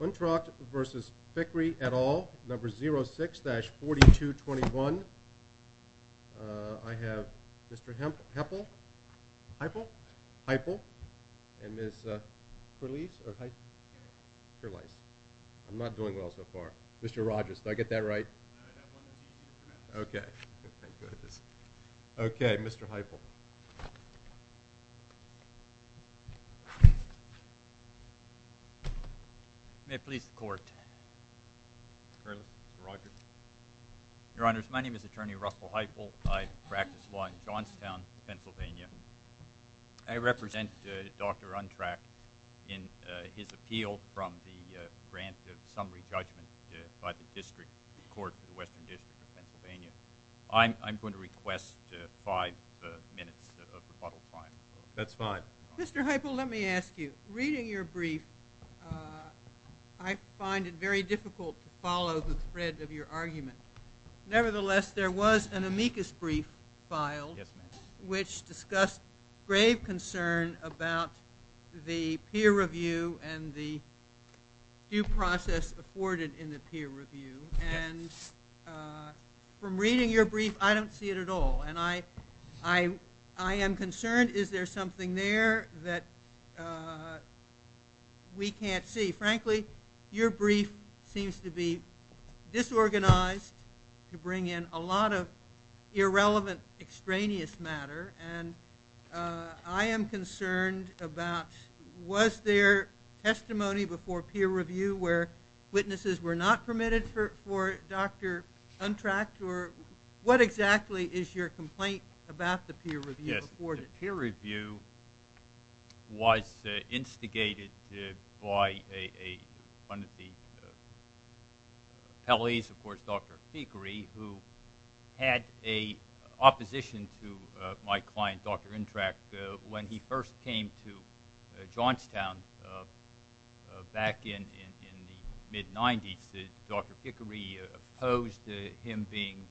Untracht v. Fikri et al., No. 06-4221. I have Mr. Heppel. Heippel? Heippel. And Ms. Kurles. Kurles. I'm not doing well so far. Mr. Rogers, did I get that right? Okay. Okay, Mr. Heippel. May it please the Court. Mr. Kurles, Mr. Rogers. Your Honors, my name is Attorney Russell Heippel. I practice law in Johnstown, Pennsylvania. I represent Dr. Untracht in his appeal from the grant of summary judgment by the District Court for the Western District of Pennsylvania. I'm going to request five minutes of rebuttal time. That's fine. Mr. Heippel, let me ask you. Reading your brief, I find it very difficult to follow the thread of your argument. Nevertheless, there was an amicus brief filed which discussed grave concern about the peer review and the due process afforded in the peer review. And from reading your brief, I don't see it at all. And I am concerned. Is there something there that we can't see? Frankly, your brief seems to be disorganized to bring in a lot of irrelevant extraneous matter. And I am concerned about was there testimony before peer review where witnesses were not permitted for Dr. Untracht? Or what exactly is your complaint about the peer review? The peer review was instigated by one of the appellees, of course, Dr. Pickery, who had an opposition to my client, Dr. Untracht. When he first came to Johnstown back in the mid-'90s, Dr. Pickery opposed him being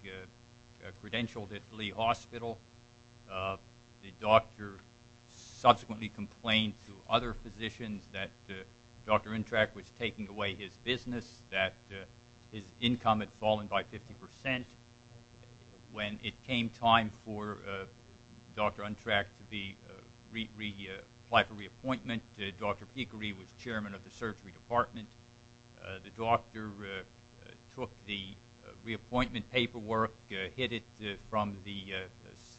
credentialed at Lee Hospital. The doctor subsequently complained to other physicians that Dr. Untracht was taking away his business, that his income had fallen by 50%. When it came time for Dr. Untracht to be reapplied for reappointment, Dr. Pickery was chairman of the surgery department. The doctor took the reappointment paperwork, hid it from the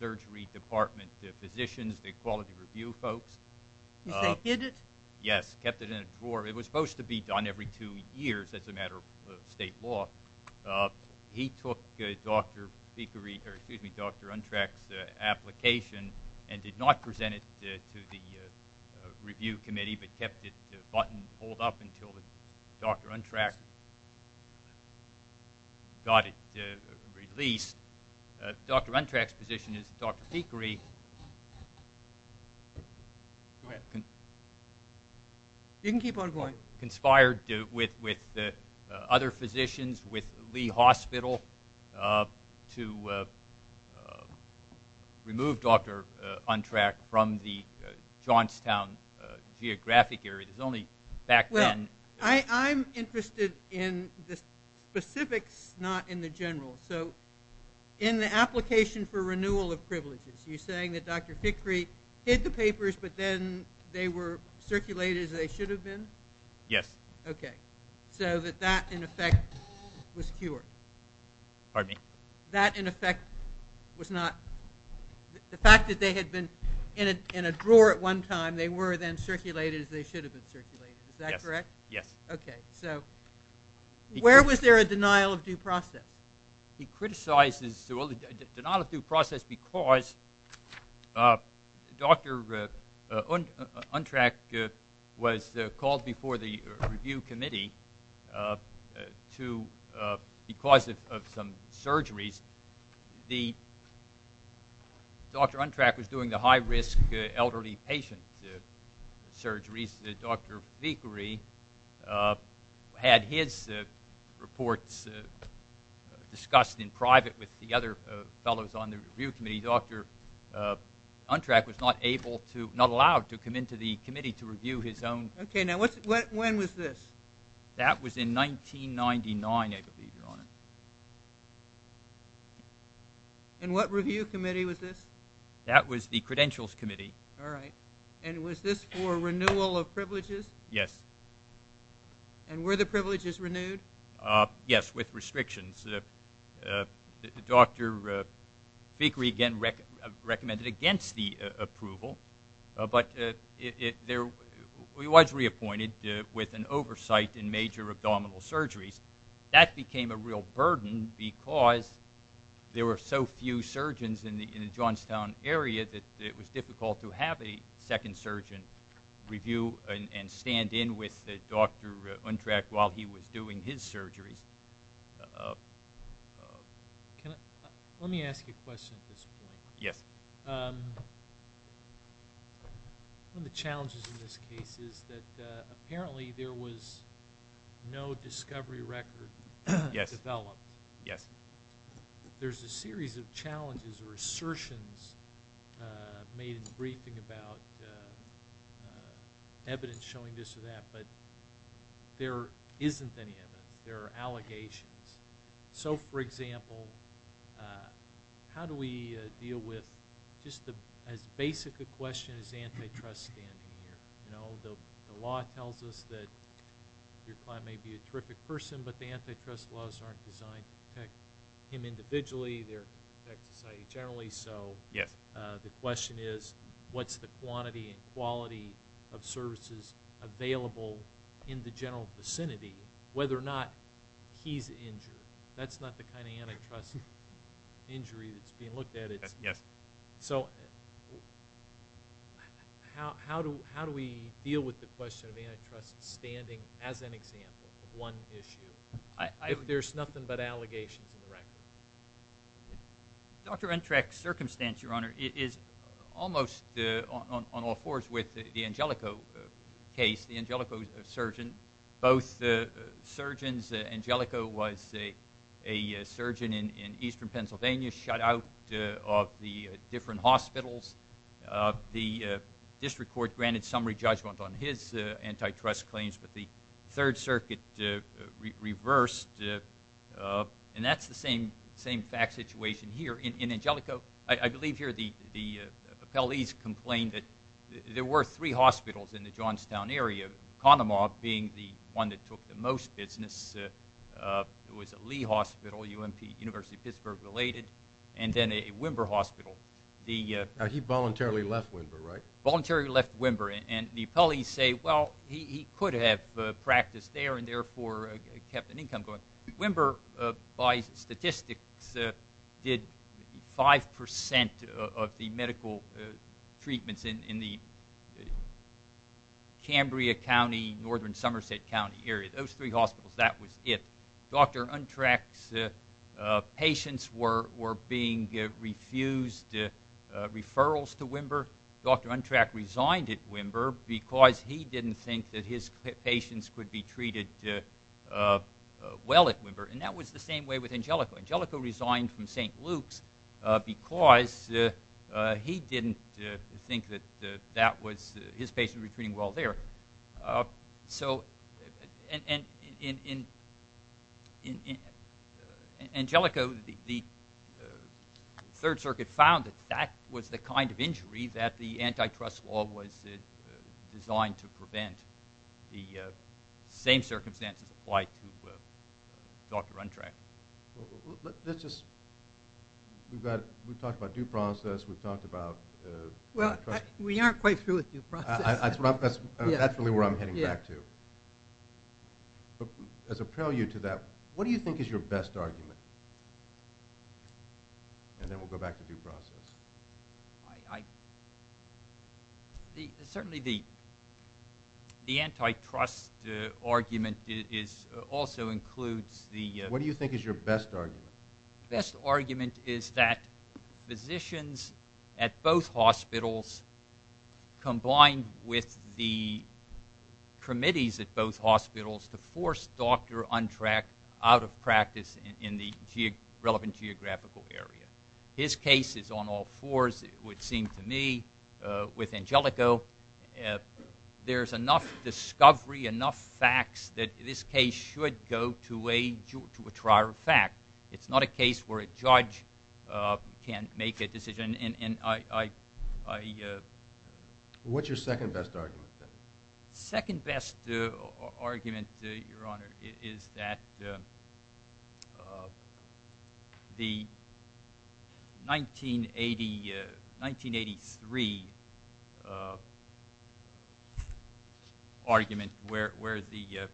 surgery department physicians, the quality review folks. You say hid it? Yes, kept it in a drawer. It was supposed to be done every two years as a matter of state law. He took Dr. Untracht's application and did not present it to the review committee but kept the button pulled up until Dr. Untracht got it released. Dr. Untracht's position is that Dr. Pickery conspired with other physicians, with Lee Hospital, to remove Dr. Untracht from the Johnstown geographic area. I'm interested in the specifics, not in the general. In the application for renewal of privileges, you're saying that Dr. Pickery hid the papers but then they were circulated as they should have been? Yes. Okay. So that that, in effect, was cured? Pardon me? That, in effect, was not – the fact that they had been in a drawer at one time, they were then circulated as they should have been circulated. Is that correct? Yes. Okay. So where was there a denial of due process? He criticizes the denial of due process because Dr. Untracht was called before the review committee because of some surgeries. Dr. Untracht was doing the high-risk elderly patient surgeries. Dr. Pickery had his reports discussed in private with the other fellows on the review committee. Dr. Untracht was not allowed to come into the committee to review his own. Okay. Now, when was this? That was in 1999, I believe, Your Honor. And what review committee was this? That was the Credentials Committee. All right. And was this for renewal of privileges? Yes. And were the privileges renewed? Yes, with restrictions. Dr. Pickery again recommended against the approval, but he was reappointed with an oversight in major abdominal surgeries. That became a real burden because there were so few surgeons in the Johnstown area that it was difficult to have a second surgeon review and stand in with Dr. Untracht while he was doing his surgeries. Let me ask you a question at this point. Yes. One of the challenges in this case is that apparently there was no discovery record developed. Yes. There's a series of challenges or assertions made in the briefing about evidence showing this or that, but there isn't any evidence. There are allegations. So, for example, how do we deal with just as basic a question as antitrust standing here? You know, the law tells us that your client may be a terrific person, but the antitrust laws aren't designed to protect him individually. They protect society generally. So the question is what's the quantity and quality of services available in the general vicinity, whether or not he's injured. That's not the kind of antitrust injury that's being looked at. Yes. So how do we deal with the question of antitrust standing as an example of one issue? There's nothing but allegations in the record. Dr. Untracht's circumstance, Your Honor, is almost on all fours with the Angelico case, the Angelico surgeon. Both surgeons, Angelico was a surgeon in eastern Pennsylvania, shut out of the different hospitals. The district court granted summary judgment on his antitrust claims, but the Third Circuit reversed. And that's the same fact situation here. In Angelico, I believe here the appellees complained that there were three hospitals in the Johnstown area, Kahnemaw being the one that took the most business. It was a Lee Hospital, UMP, University of Pittsburgh related, and then a Wimber Hospital. He voluntarily left Wimber, right? Voluntarily left Wimber, and the appellees say, well, he could have practiced there and therefore kept an income going. Wimber, by statistics, did 5% of the medical treatments in the Cambria County, northern Somerset County area. Those three hospitals, that was it. Dr. Untracht's patients were being refused referrals to Wimber. Dr. Untracht resigned at Wimber because he didn't think that his patients could be treated well at Wimber. And that was the same way with Angelico. Angelico resigned from St. Luke's because he didn't think that his patients would be treated well there. So in Angelico, the Third Circuit found that that was the kind of injury that the antitrust law was designed to prevent. The same circumstances apply to Dr. Untracht. Let's just – we've talked about due process. We've talked about antitrust. Well, we aren't quite through with due process. That's really where I'm heading back to. As a prelude to that, what do you think is your best argument? And then we'll go back to due process. Certainly the antitrust argument also includes the – What do you think is your best argument? Best argument is that physicians at both hospitals combined with the committees at both hospitals to force Dr. Untracht out of practice in the relevant geographical area. His case is on all fours, it would seem to me, with Angelico. There's enough discovery, enough facts that this case should go to a trial of fact. It's not a case where a judge can't make a decision. What's your second best argument? Second best argument, Your Honor, is that the 1983 argument where the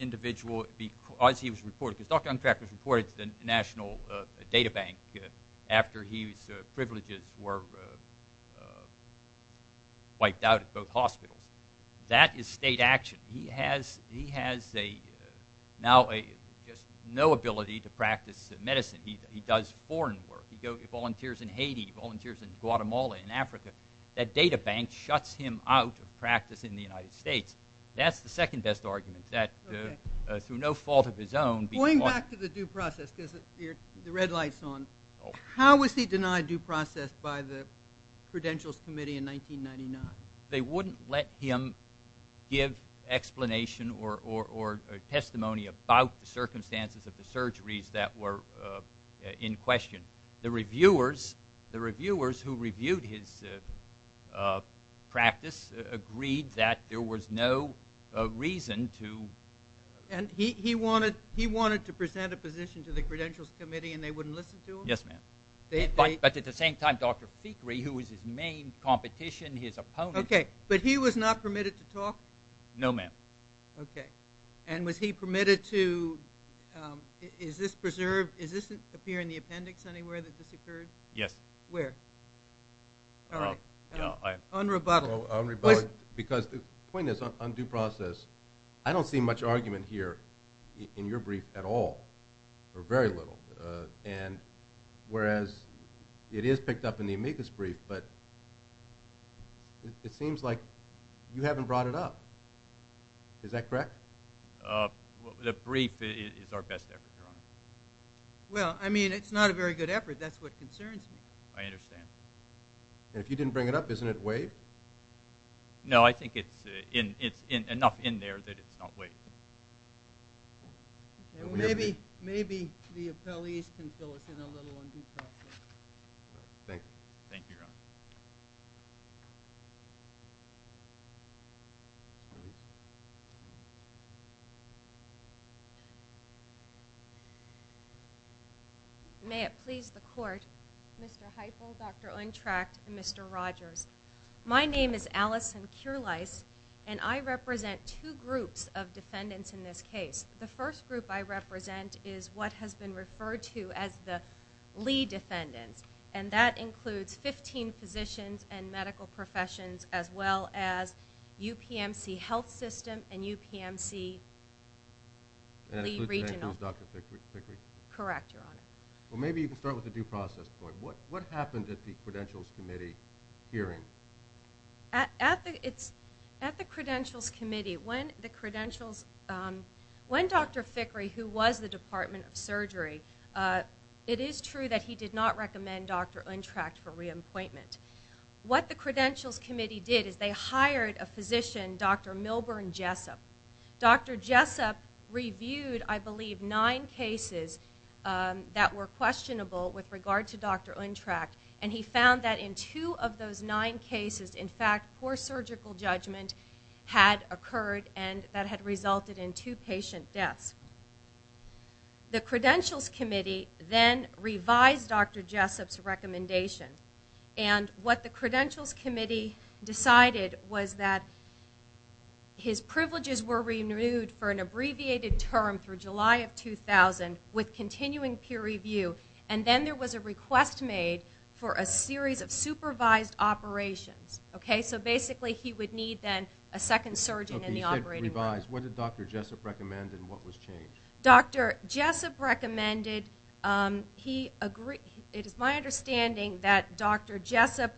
individual – because Dr. Untracht was reported to the National Data Bank after his privileges were wiped out at both hospitals. That is state action. He has now just no ability to practice medicine. He does foreign work. He volunteers in Haiti. He volunteers in Guatemala, in Africa. That data bank shuts him out of practice in the United States. That's the second best argument, that through no fault of his own – Going back to the due process because the red light's on. How was he denied due process by the Credentials Committee in 1999? They wouldn't let him give explanation or testimony about the circumstances of the surgeries that were in question. The reviewers who reviewed his practice agreed that there was no reason to – And he wanted to present a position to the Credentials Committee, and they wouldn't listen to him? Yes, ma'am. But at the same time, Dr. Fikri, who was his main competition, his opponent – Okay, but he was not permitted to talk? No, ma'am. Okay. And was he permitted to – Is this preserved? Does this appear in the appendix anywhere that this occurred? Yes. Where? Unrebuttaled. Because the point is, on due process, I don't see much argument here in your brief at all, or very little. And whereas it is picked up in the amicus brief, but it seems like you haven't brought it up. Is that correct? The brief is our best effort, Your Honor. Well, I mean, it's not a very good effort. That's what concerns me. I understand. And if you didn't bring it up, isn't it waived? No, I think it's enough in there that it's not waived. Maybe the appellees can fill us in a little on due process. Thank you. Thank you, Your Honor. May it please the Court, Mr. Heifel, Dr. Untrecht, and Mr. Rogers. My name is Allison Kurlice, and I represent two groups of defendants in this case. The first group I represent is what has been referred to as the Lee defendants, and that includes 15 physicians and medical professions, as well as UPMC Health System and UPMC Lee Regional. And that includes Dr. Pickery? Correct, Your Honor. Well, maybe you can start with the due process part. What happened at the Credentials Committee hearing? At the Credentials Committee, when Dr. Pickery, who was the Department of Surgery, it is true that he did not recommend Dr. Untrecht for re-appointment. What the Credentials Committee did is they hired a physician, Dr. Milburn Jessup. Dr. Jessup reviewed, I believe, nine cases that were questionable with regard to Dr. Untrecht, and he found that in two of those nine cases, in fact, poor surgical judgment had occurred and that had resulted in two patient deaths. The Credentials Committee then revised Dr. Jessup's recommendation, and what the Credentials Committee decided was that his privileges were renewed for an abbreviated term through July of 2000 with continuing peer review, and then there was a request made for a series of supervised operations. Okay, so basically he would need then a second surgeon in the operating room. Okay, you said revised. What did Dr. Jessup recommend, and what was changed? Dr. Jessup recommended, it is my understanding that Dr. Jessup's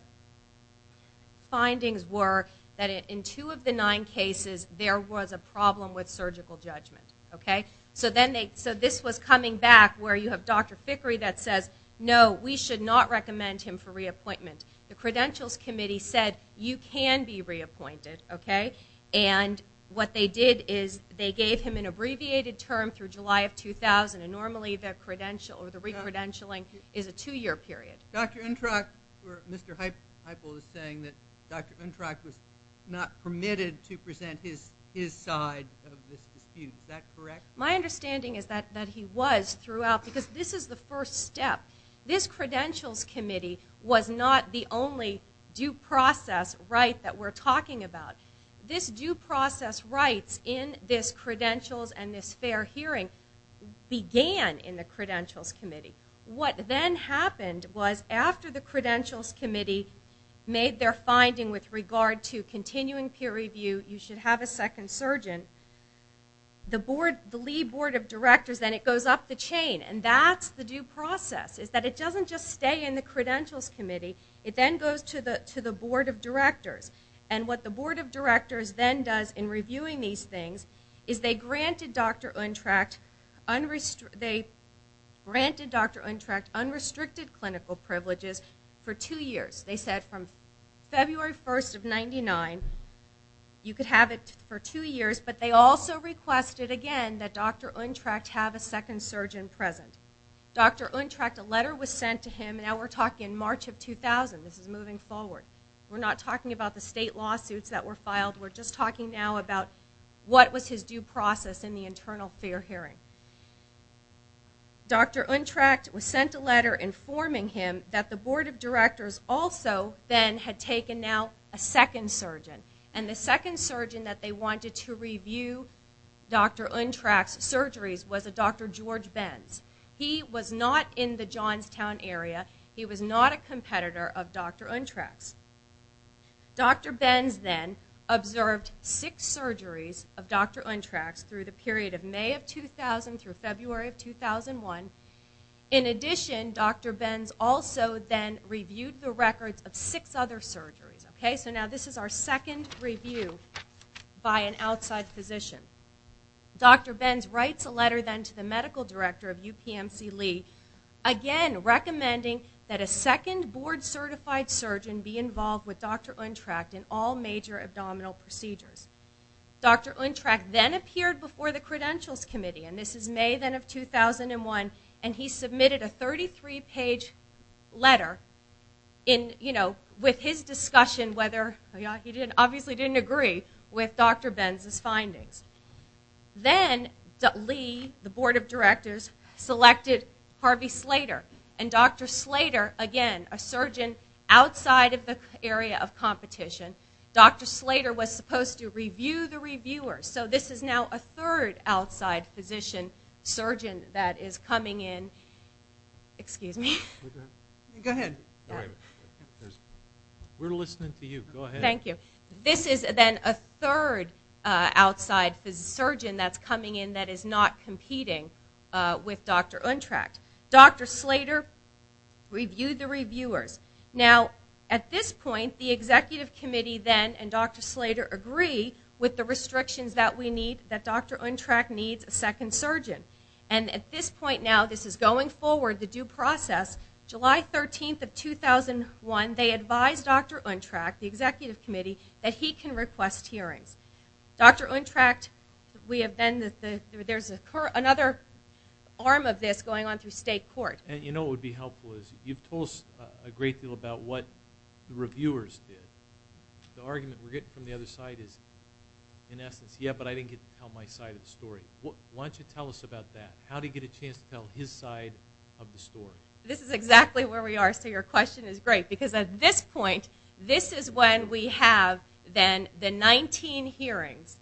findings were that in two of the nine cases, there was a problem with surgical judgment. Okay, so this was coming back where you have Dr. Pickery that says, no, we should not recommend him for re-appointment. The Credentials Committee said, you can be re-appointed, okay, and what they did is they gave him an abbreviated term through July of 2000, and normally the credential or the re-credentialing is a two-year period. Dr. Untrock, Mr. Heupel is saying that Dr. Untrock was not permitted to present his side of this dispute. Is that correct? My understanding is that he was throughout, because this is the first step. This Credentials Committee was not the only due process right that we're talking about. This due process rights in this credentials and this fair hearing began in the Credentials Committee. What then happened was after the Credentials Committee made their finding with regard to continuing peer review, you should have a second surgeon, the board, the lead board of directors, then it goes up the chain, and that's the due process is that it doesn't just stay in the Credentials Committee, it then goes to the board of directors. And what the board of directors then does in reviewing these things is they granted Dr. Untrock unrestricted clinical privileges for two years. They said from February 1st of 99, you could have it for two years, but they also requested again that Dr. Untrock have a second surgeon present. Dr. Untrock, a letter was sent to him, now we're talking March of 2000. This is moving forward. We're not talking about the state lawsuits that were filed, we're just talking now about what was his due process in the internal fair hearing. Dr. Untrock was sent a letter informing him that the board of directors also then had taken now a second surgeon, and the second surgeon that they wanted to review Dr. Untrock's surgeries was a Dr. George Benz. He was not in the Johnstown area. He was not a competitor of Dr. Untrock's. Dr. Benz then observed six surgeries of Dr. Untrock's through the period of May of 2000 through February of 2001. In addition, Dr. Benz also then reviewed the records of six other surgeries. Okay, so now this is our second review by an outside physician. Dr. Benz writes a letter then to the medical director of UPMC Lee, again recommending that a second board-certified surgeon be involved with Dr. Untrock in all major abdominal procedures. Dr. Untrock then appeared before the credentials committee, and this is May then of 2001, and he submitted a 33-page letter with his discussion, whether he obviously didn't agree with Dr. Benz's findings. Then Lee, the board of directors, selected Harvey Slater, and Dr. Slater, again, a surgeon outside of the area of competition, Dr. Slater was supposed to review the reviewers. So this is now a third outside physician surgeon that is coming in. Excuse me. Go ahead. We're listening to you. Go ahead. Thank you. This is then a third outside surgeon that's coming in that is not competing with Dr. Untrock. Dr. Slater reviewed the reviewers. Now, at this point, the executive committee then and Dr. Slater agree with the restrictions that we need, that Dr. Untrock needs a second surgeon. And at this point now, this is going forward, the due process, July 13th of 2001, they advised Dr. Untrock, the executive committee, that he can request hearings. Dr. Untrock, there's another arm of this going on through state court. You know what would be helpful is you've told us a great deal about what the reviewers did. The argument we're getting from the other side is, in essence, yeah, but I didn't get to tell my side of the story. Why don't you tell us about that? How do you get a chance to tell his side of the story? This is exactly where we are, so your question is great. Because at this point, this is when we have then the 19 hearings,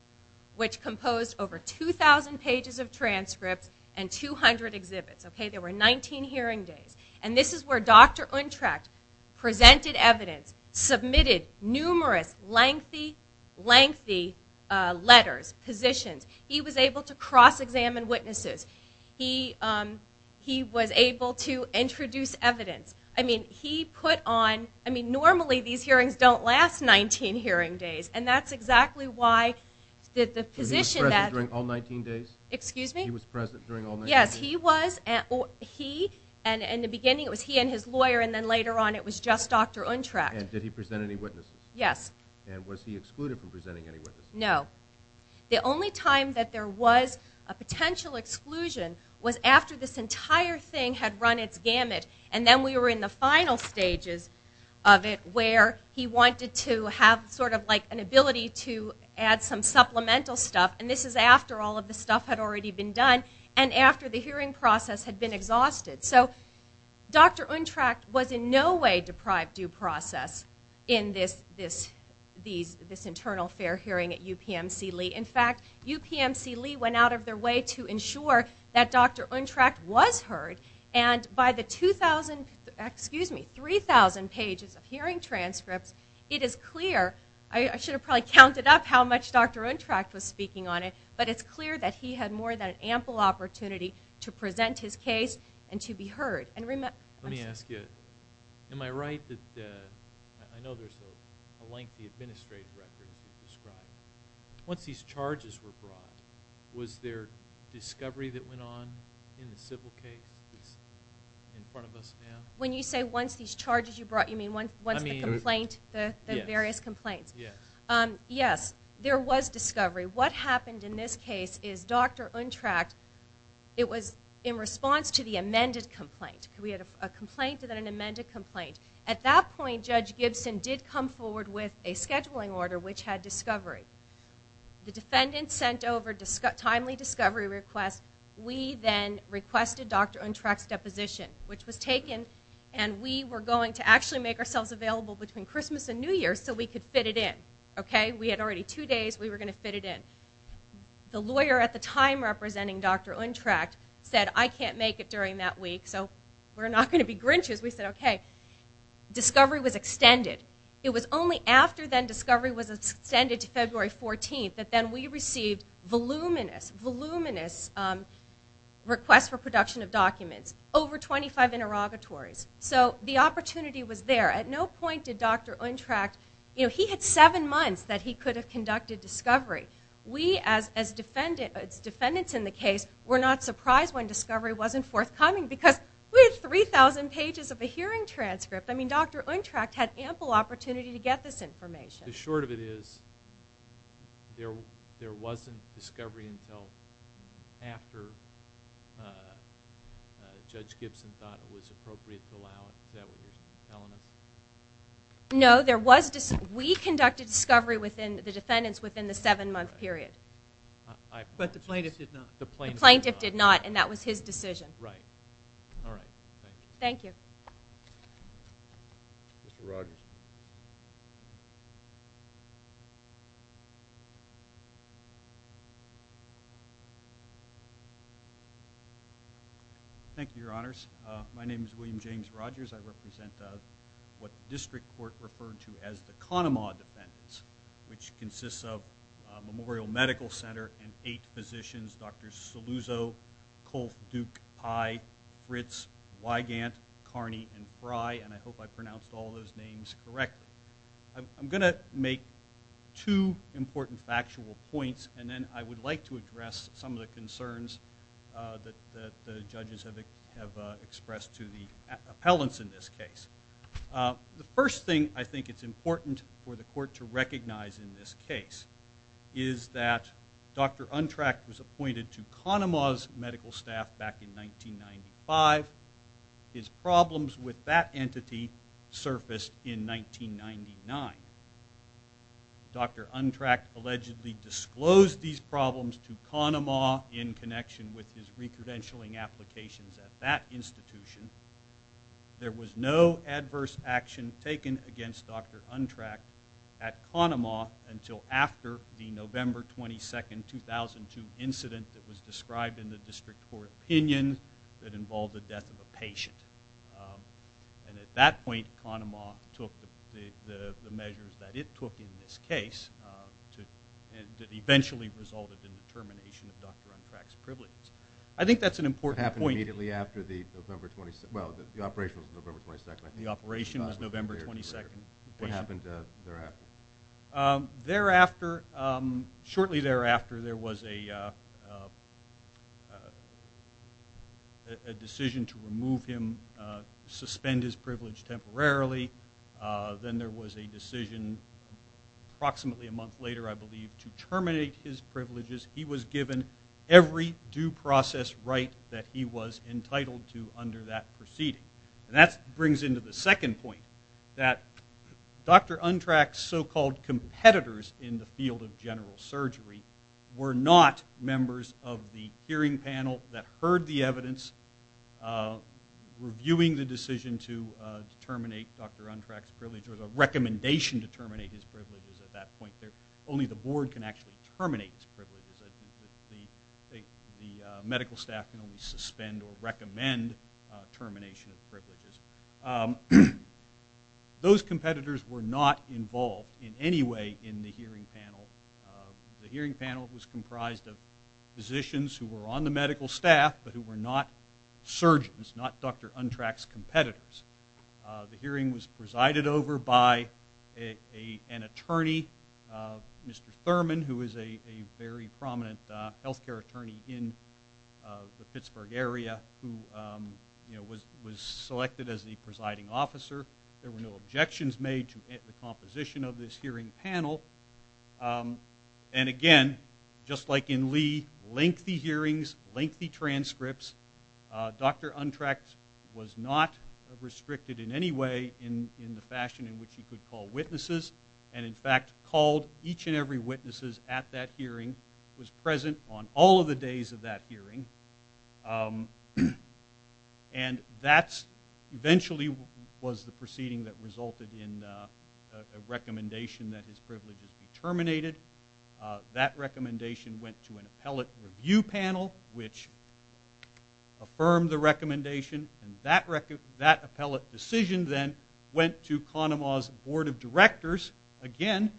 which composed over 2,000 pages of transcripts and 200 exhibits. Okay, there were 19 hearing days. And this is where Dr. Untrock presented evidence, submitted numerous lengthy, lengthy letters, positions. He was able to cross-examine witnesses. He was able to introduce evidence. I mean, he put on, I mean, normally these hearings don't last 19 hearing days, and that's exactly why the position that- Was he present during all 19 days? Excuse me? He was present during all 19 days. Yes, he was. He, and in the beginning it was he and his lawyer, and then later on it was just Dr. Untrock. And did he present any witnesses? Yes. And was he excluded from presenting any witnesses? No. The only time that there was a potential exclusion was after this entire thing had run its gamut, and then we were in the final stages of it, where he wanted to have sort of like an ability to add some supplemental stuff. And this is after all of the stuff had already been done. And after the hearing process had been exhausted. So Dr. Untrock was in no way deprived due process in this internal fair hearing at UPMC Lee. In fact, UPMC Lee went out of their way to ensure that Dr. Untrock was heard, and by the 2,000, excuse me, 3,000 pages of hearing transcripts, it is clear. I should have probably counted up how much Dr. Untrock was speaking on it, but it's clear that he had more than ample opportunity to present his case and to be heard. Let me ask you. Am I right that, I know there's a lengthy administrative record as you've described. Once these charges were brought, was there discovery that went on in the civil case in front of us now? When you say once these charges were brought, you mean once the complaint, the various complaints? Yes. Yes, there was discovery. What happened in this case is Dr. Untrock, it was in response to the amended complaint. We had a complaint and then an amended complaint. At that point, Judge Gibson did come forward with a scheduling order which had discovery. The defendant sent over timely discovery request. We then requested Dr. Untrock's deposition, which was taken, and we were going to actually make ourselves available between Christmas and New Year so we could fit it in. We had already two days. We were going to fit it in. The lawyer at the time representing Dr. Untrock said, I can't make it during that week so we're not going to be Grinches. We said, okay. Discovery was extended. It was only after then discovery was extended to February 14th that then we received voluminous, voluminous requests for production of documents, over 25 interrogatories. So the opportunity was there. At no point did Dr. Untrock, you know, he had seven months that he could have conducted discovery. We as defendants in the case were not surprised when discovery wasn't forthcoming because we had 3,000 pages of a hearing transcript. I mean, Dr. Untrock had ample opportunity to get this information. The short of it is there wasn't discovery until after Judge Gibson thought it was appropriate to allow it. Is that what you're telling us? No. We conducted discovery within the defendants within the seven-month period. But the plaintiff did not. The plaintiff did not, and that was his decision. Right. All right. Thank you. Thank you. Mr. Rogers. Thank you, Your Honors. My name is William James Rogers. I represent what the district court referred to as the Kahnemaw defendants, which consists of Memorial Medical Center and eight physicians, Drs. Saluzzo, Kolf, Duke, Pye, Fritz, Weigandt, Carney, and Frey, and I hope I pronounced all those names correctly. I'm going to make two important factual points, and then I would like to address some of the concerns that the judges have expressed to the appellants in this case. The first thing I think it's important for the court to recognize in this case is that Dr. Untrack was appointed to Kahnemaw's medical staff back in 1995. His problems with that entity surfaced in 1999. Dr. Untrack allegedly disclosed these problems to Kahnemaw in connection with his recredentialing applications at that institution. There was no adverse action taken against Dr. Untrack at Kahnemaw until after the November 22, 2002 incident that was described in the district court opinion that involved the death of a patient. And at that point, Kahnemaw took the measures that it took in this case that eventually resulted in the termination of Dr. Untrack's privileges. I think that's an important point. Well, the operation was November 22, I think. The operation was November 22. What happened thereafter? Shortly thereafter, there was a decision to remove him, suspend his privilege temporarily. Then there was a decision approximately a month later, I believe, to terminate his privileges. He was given every due process right that he was entitled to under that proceeding. And that brings into the second point, that Dr. Untrack's so-called competitors in the field of general surgery were not members of the hearing panel that heard the evidence, reviewing the decision to terminate Dr. Untrack's privileges or the recommendation to terminate his privileges at that point. Only the board can actually terminate his privileges. The medical staff can only suspend or recommend termination of privileges. Those competitors were not involved in any way in the hearing panel. The hearing panel was comprised of physicians who were on the medical staff but who were not surgeons, not Dr. Untrack's competitors. The hearing was presided over by an attorney, Mr. Thurman, who is a very prominent health care attorney in the Pittsburgh area, who was selected as the presiding officer. There were no objections made to the composition of this hearing panel. And again, just like in Lee, lengthy hearings, lengthy transcripts. Dr. Untrack was not restricted in any way in the fashion in which he could call witnesses. And, in fact, called each and every witness at that hearing, was present on all of the days of that hearing. And that eventually was the proceeding that resulted in a recommendation that his privileges be terminated. That recommendation went to an appellate review panel, which affirmed the recommendation. And that appellate decision then went to Kahnemaw's board of directors. Again,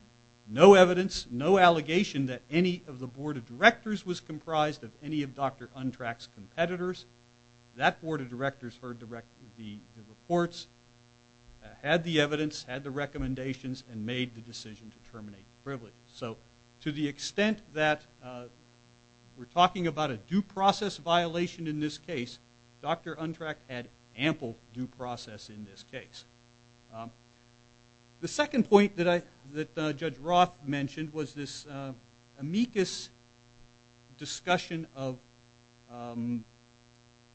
no evidence, no allegation that any of the board of directors was comprised of any of Dr. Untrack's competitors. That board of directors heard the reports, had the evidence, had the recommendations, and made the decision to terminate the privileges. So, to the extent that we're talking about a due process violation in this case, Dr. Untrack had ample due process in this case. The second point that Judge Roth mentioned was this amicus discussion of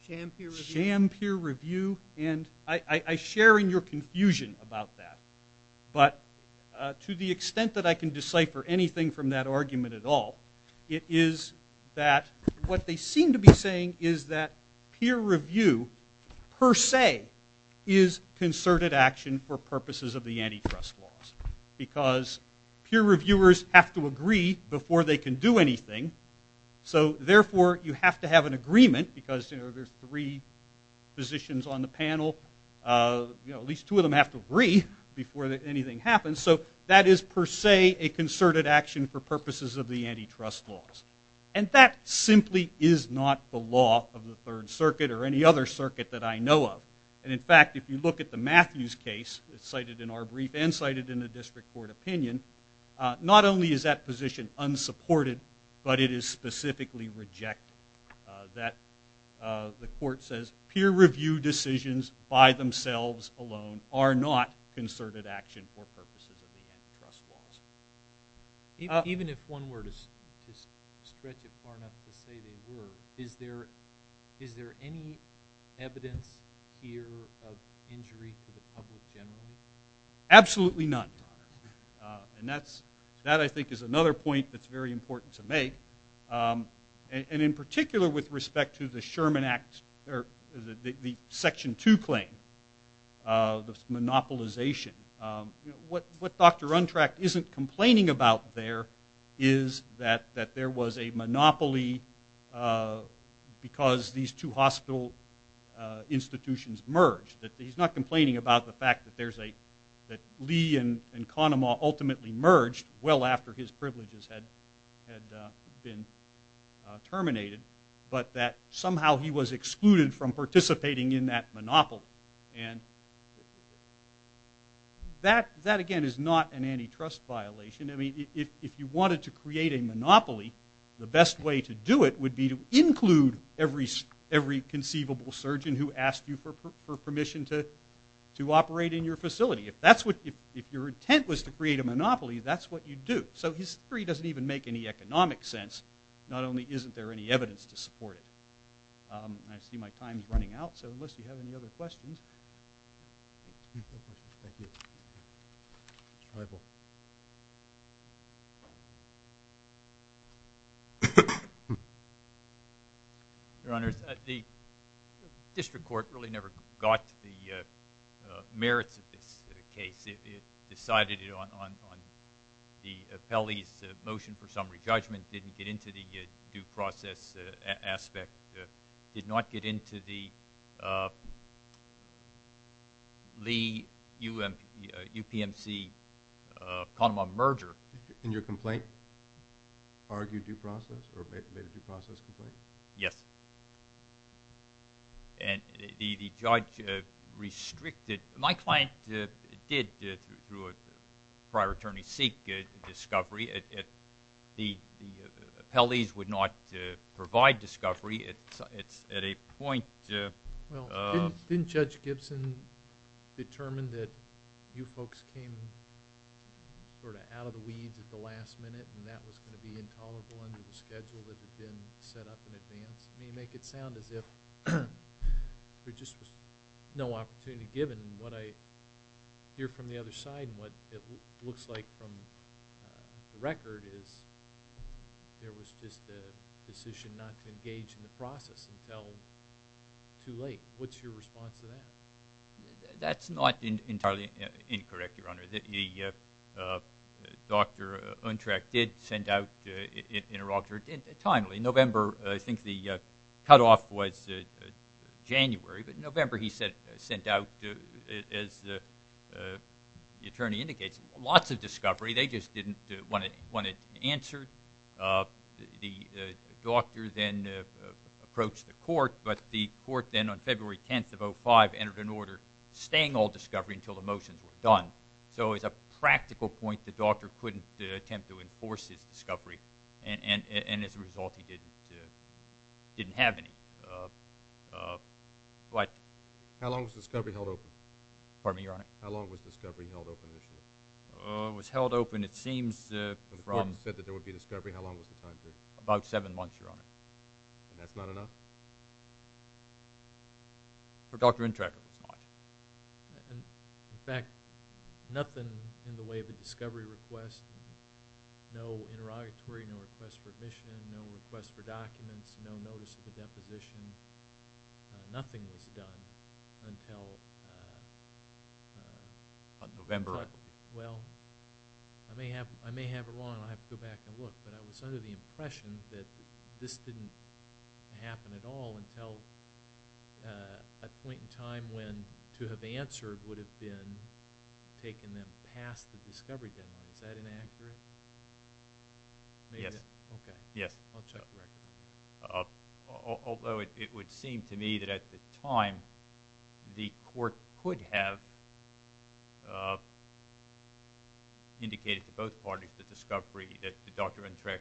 sham peer review. And I share in your confusion about that. But to the extent that I can decipher anything from that argument at all, it is that what they seem to be saying is that peer review, per se, is concerted action for purposes of the antitrust laws. Because peer reviewers have to agree before they can do anything. So, therefore, you have to have an agreement because, you know, there's three positions on the panel. You know, at least two of them have to agree before anything happens. So, that is, per se, a concerted action for purposes of the antitrust laws. And that simply is not the law of the Third Circuit or any other circuit that I know of. And, in fact, if you look at the Matthews case cited in our brief and cited in the district court opinion, not only is that position unsupported, but it is specifically rejected. That the court says peer review decisions by themselves alone are not concerted action for purposes of the antitrust laws. Even if one were to stretch it far enough to say they were, is there any evidence here of injury to the public generally? Absolutely none, to be honest. And that, I think, is another point that's very important to make. And, in particular, with respect to the Sherman Act, or the Section 2 claim, the monopolization. You know, what Dr. Untrecht isn't complaining about there is that there was a monopoly because these two hospital institutions merged. He's not complaining about the fact that Lee and Kahnemaw ultimately merged well after his privileges had been terminated, but that somehow he was excluded from participating in that monopoly. And that, again, is not an antitrust violation. I mean, if you wanted to create a monopoly, the best way to do it would be to include every conceivable surgeon who asked you for permission to operate in your facility. If your intent was to create a monopoly, that's what you'd do. So his theory doesn't even make any economic sense. Not only isn't there any evidence to support it. I see my time's running out, so unless you have any other questions. Thank you. Your Honors, the district court really never got the merits of this case. It decided it on the appellee's motion for summary judgment, didn't get into the due process aspect, did not get into the Lee-UPMC-Kahnemaw merger. And your complaint argued due process or made a due process complaint? Yes. And the judge restricted. My client did, through a prior attorney, seek discovery. The appellees would not provide discovery. It's at a point. Well, didn't Judge Gibson determine that you folks came sort of out of the weeds at the last minute and that was going to be intolerable under the schedule that had been set up in advance? I mean, you make it sound as if there just was no opportunity, given what I hear from the other side and what it looks like from the record is there was just a decision not to engage in the process until too late. What's your response to that? That's not entirely incorrect, Your Honor. Dr. Untreck did send out an interrogator timely. In November, I think the cutoff was January, but in November he sent out, as the attorney indicates, lots of discovery. They just didn't want it answered. The doctor then approached the court, but the court then on February 10th of 2005 entered an order staying all discovery until the motions were done. So as a practical point, the doctor couldn't attempt to enforce his discovery, and as a result he didn't have any. How long was discovery held open? Pardon me, Your Honor? How long was discovery held open initially? It was held open, it seems from— When the court said that there would be discovery, how long was the time period? About seven months, Your Honor. And that's not enough? For Dr. Untreck, it was not. In fact, nothing in the way of a discovery request, no interrogatory, no request for admission, no request for documents, no notice of a deposition, nothing was done until— November. Well, I may have it wrong and I'll have to go back and look, but I was under the impression that this didn't happen at all until a point in time when to have answered would have been taking them past the discovery deadline. Is that inaccurate? Yes. Okay. Yes. I'll check the record. Although it would seem to me that at the time, the court could have indicated to both parties the discovery, that Dr. Untreck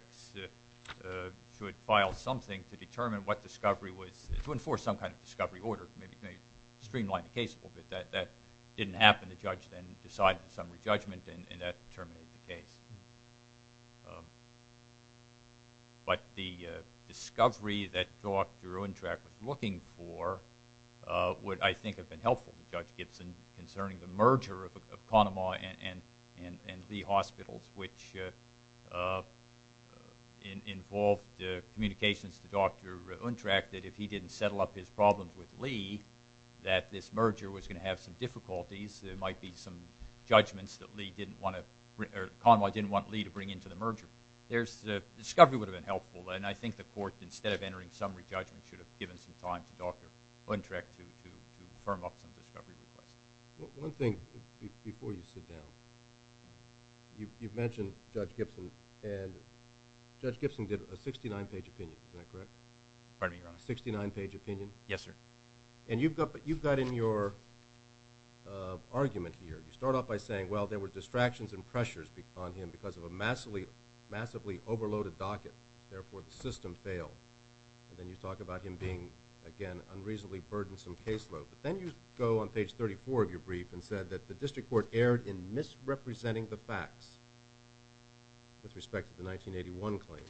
should file something to determine what discovery was, to enforce some kind of discovery order, maybe streamline the case a little bit. That didn't happen. The judge then decided a summary judgment, and that terminated the case. But the discovery that Dr. Untreck was looking for would, I think, have been helpful to Judge Gibson concerning the merger of Kahnemaw and Lee Hospitals, which involved communications to Dr. Untreck that if he didn't settle up his problems with Lee, that this merger was going to have some difficulties. There might be some judgments that Kahnemaw didn't want Lee to bring into the merger. The discovery would have been helpful, and I think the court, instead of entering summary judgment, should have given some time to Dr. Untreck to firm up some discovery requests. One thing before you sit down. You've mentioned Judge Gibson, and Judge Gibson did a 69-page opinion. Is that correct? Pardon me, Your Honor. A 69-page opinion? Yes, sir. And you've got in your argument here, you start off by saying, well, there were distractions and pressures on him because of a massively overloaded docket. Therefore, the system failed. And then you talk about him being, again, unreasonably burdensome caseload. But then you go on page 34 of your brief and said that the district court erred in misrepresenting the facts with respect to the 1981 claim.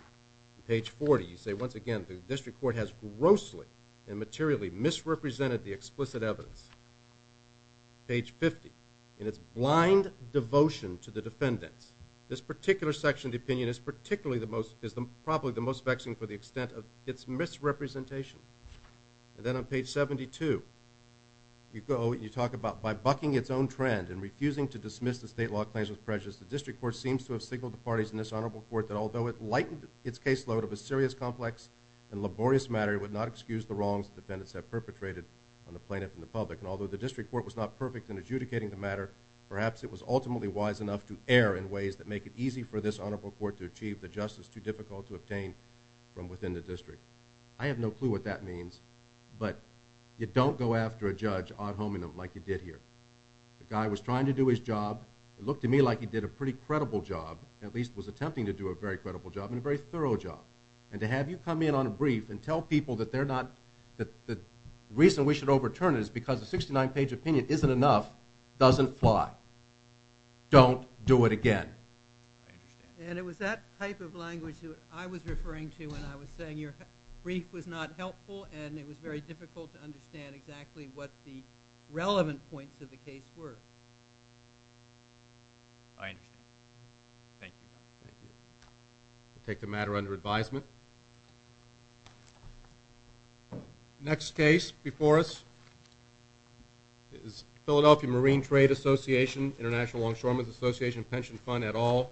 On page 40, you say, once again, the district court has grossly and materially misrepresented the explicit evidence. Page 50, in its blind devotion to the defendants, this particular section of the opinion is probably the most vexing for the extent of its misrepresentation. And then on page 72, you go and you talk about, by bucking its own trend and refusing to dismiss the state law claims with prejudice, the district court seems to have signaled to parties in this honorable court that although it lightened its caseload of a serious, complex, and laborious matter, it would not excuse the wrongs the defendants have perpetrated on the plaintiff and the public. And although the district court was not perfect in adjudicating the matter, perhaps it was ultimately wise enough to err in ways that make it easy for this honorable court to achieve the justice too difficult to obtain from within the district. I have no clue what that means, but you don't go after a judge ad hominem like you did here. The guy was trying to do his job. It looked to me like he did a pretty credible job, at least was attempting to do a very credible job and a very thorough job. And to have you come in on a brief and tell people that they're not, that the reason we should overturn it is because a 69-page opinion isn't enough, doesn't fly. Don't do it again. I understand. And it was that type of language that I was referring to when I was saying your brief was not helpful and it was very difficult to understand exactly what the relevant points of the case were. I understand. Thank you. Thank you. We'll take the matter under advisement. Next case before us is Philadelphia Marine Trade Association, International Longshoremen's Association pension fund et al.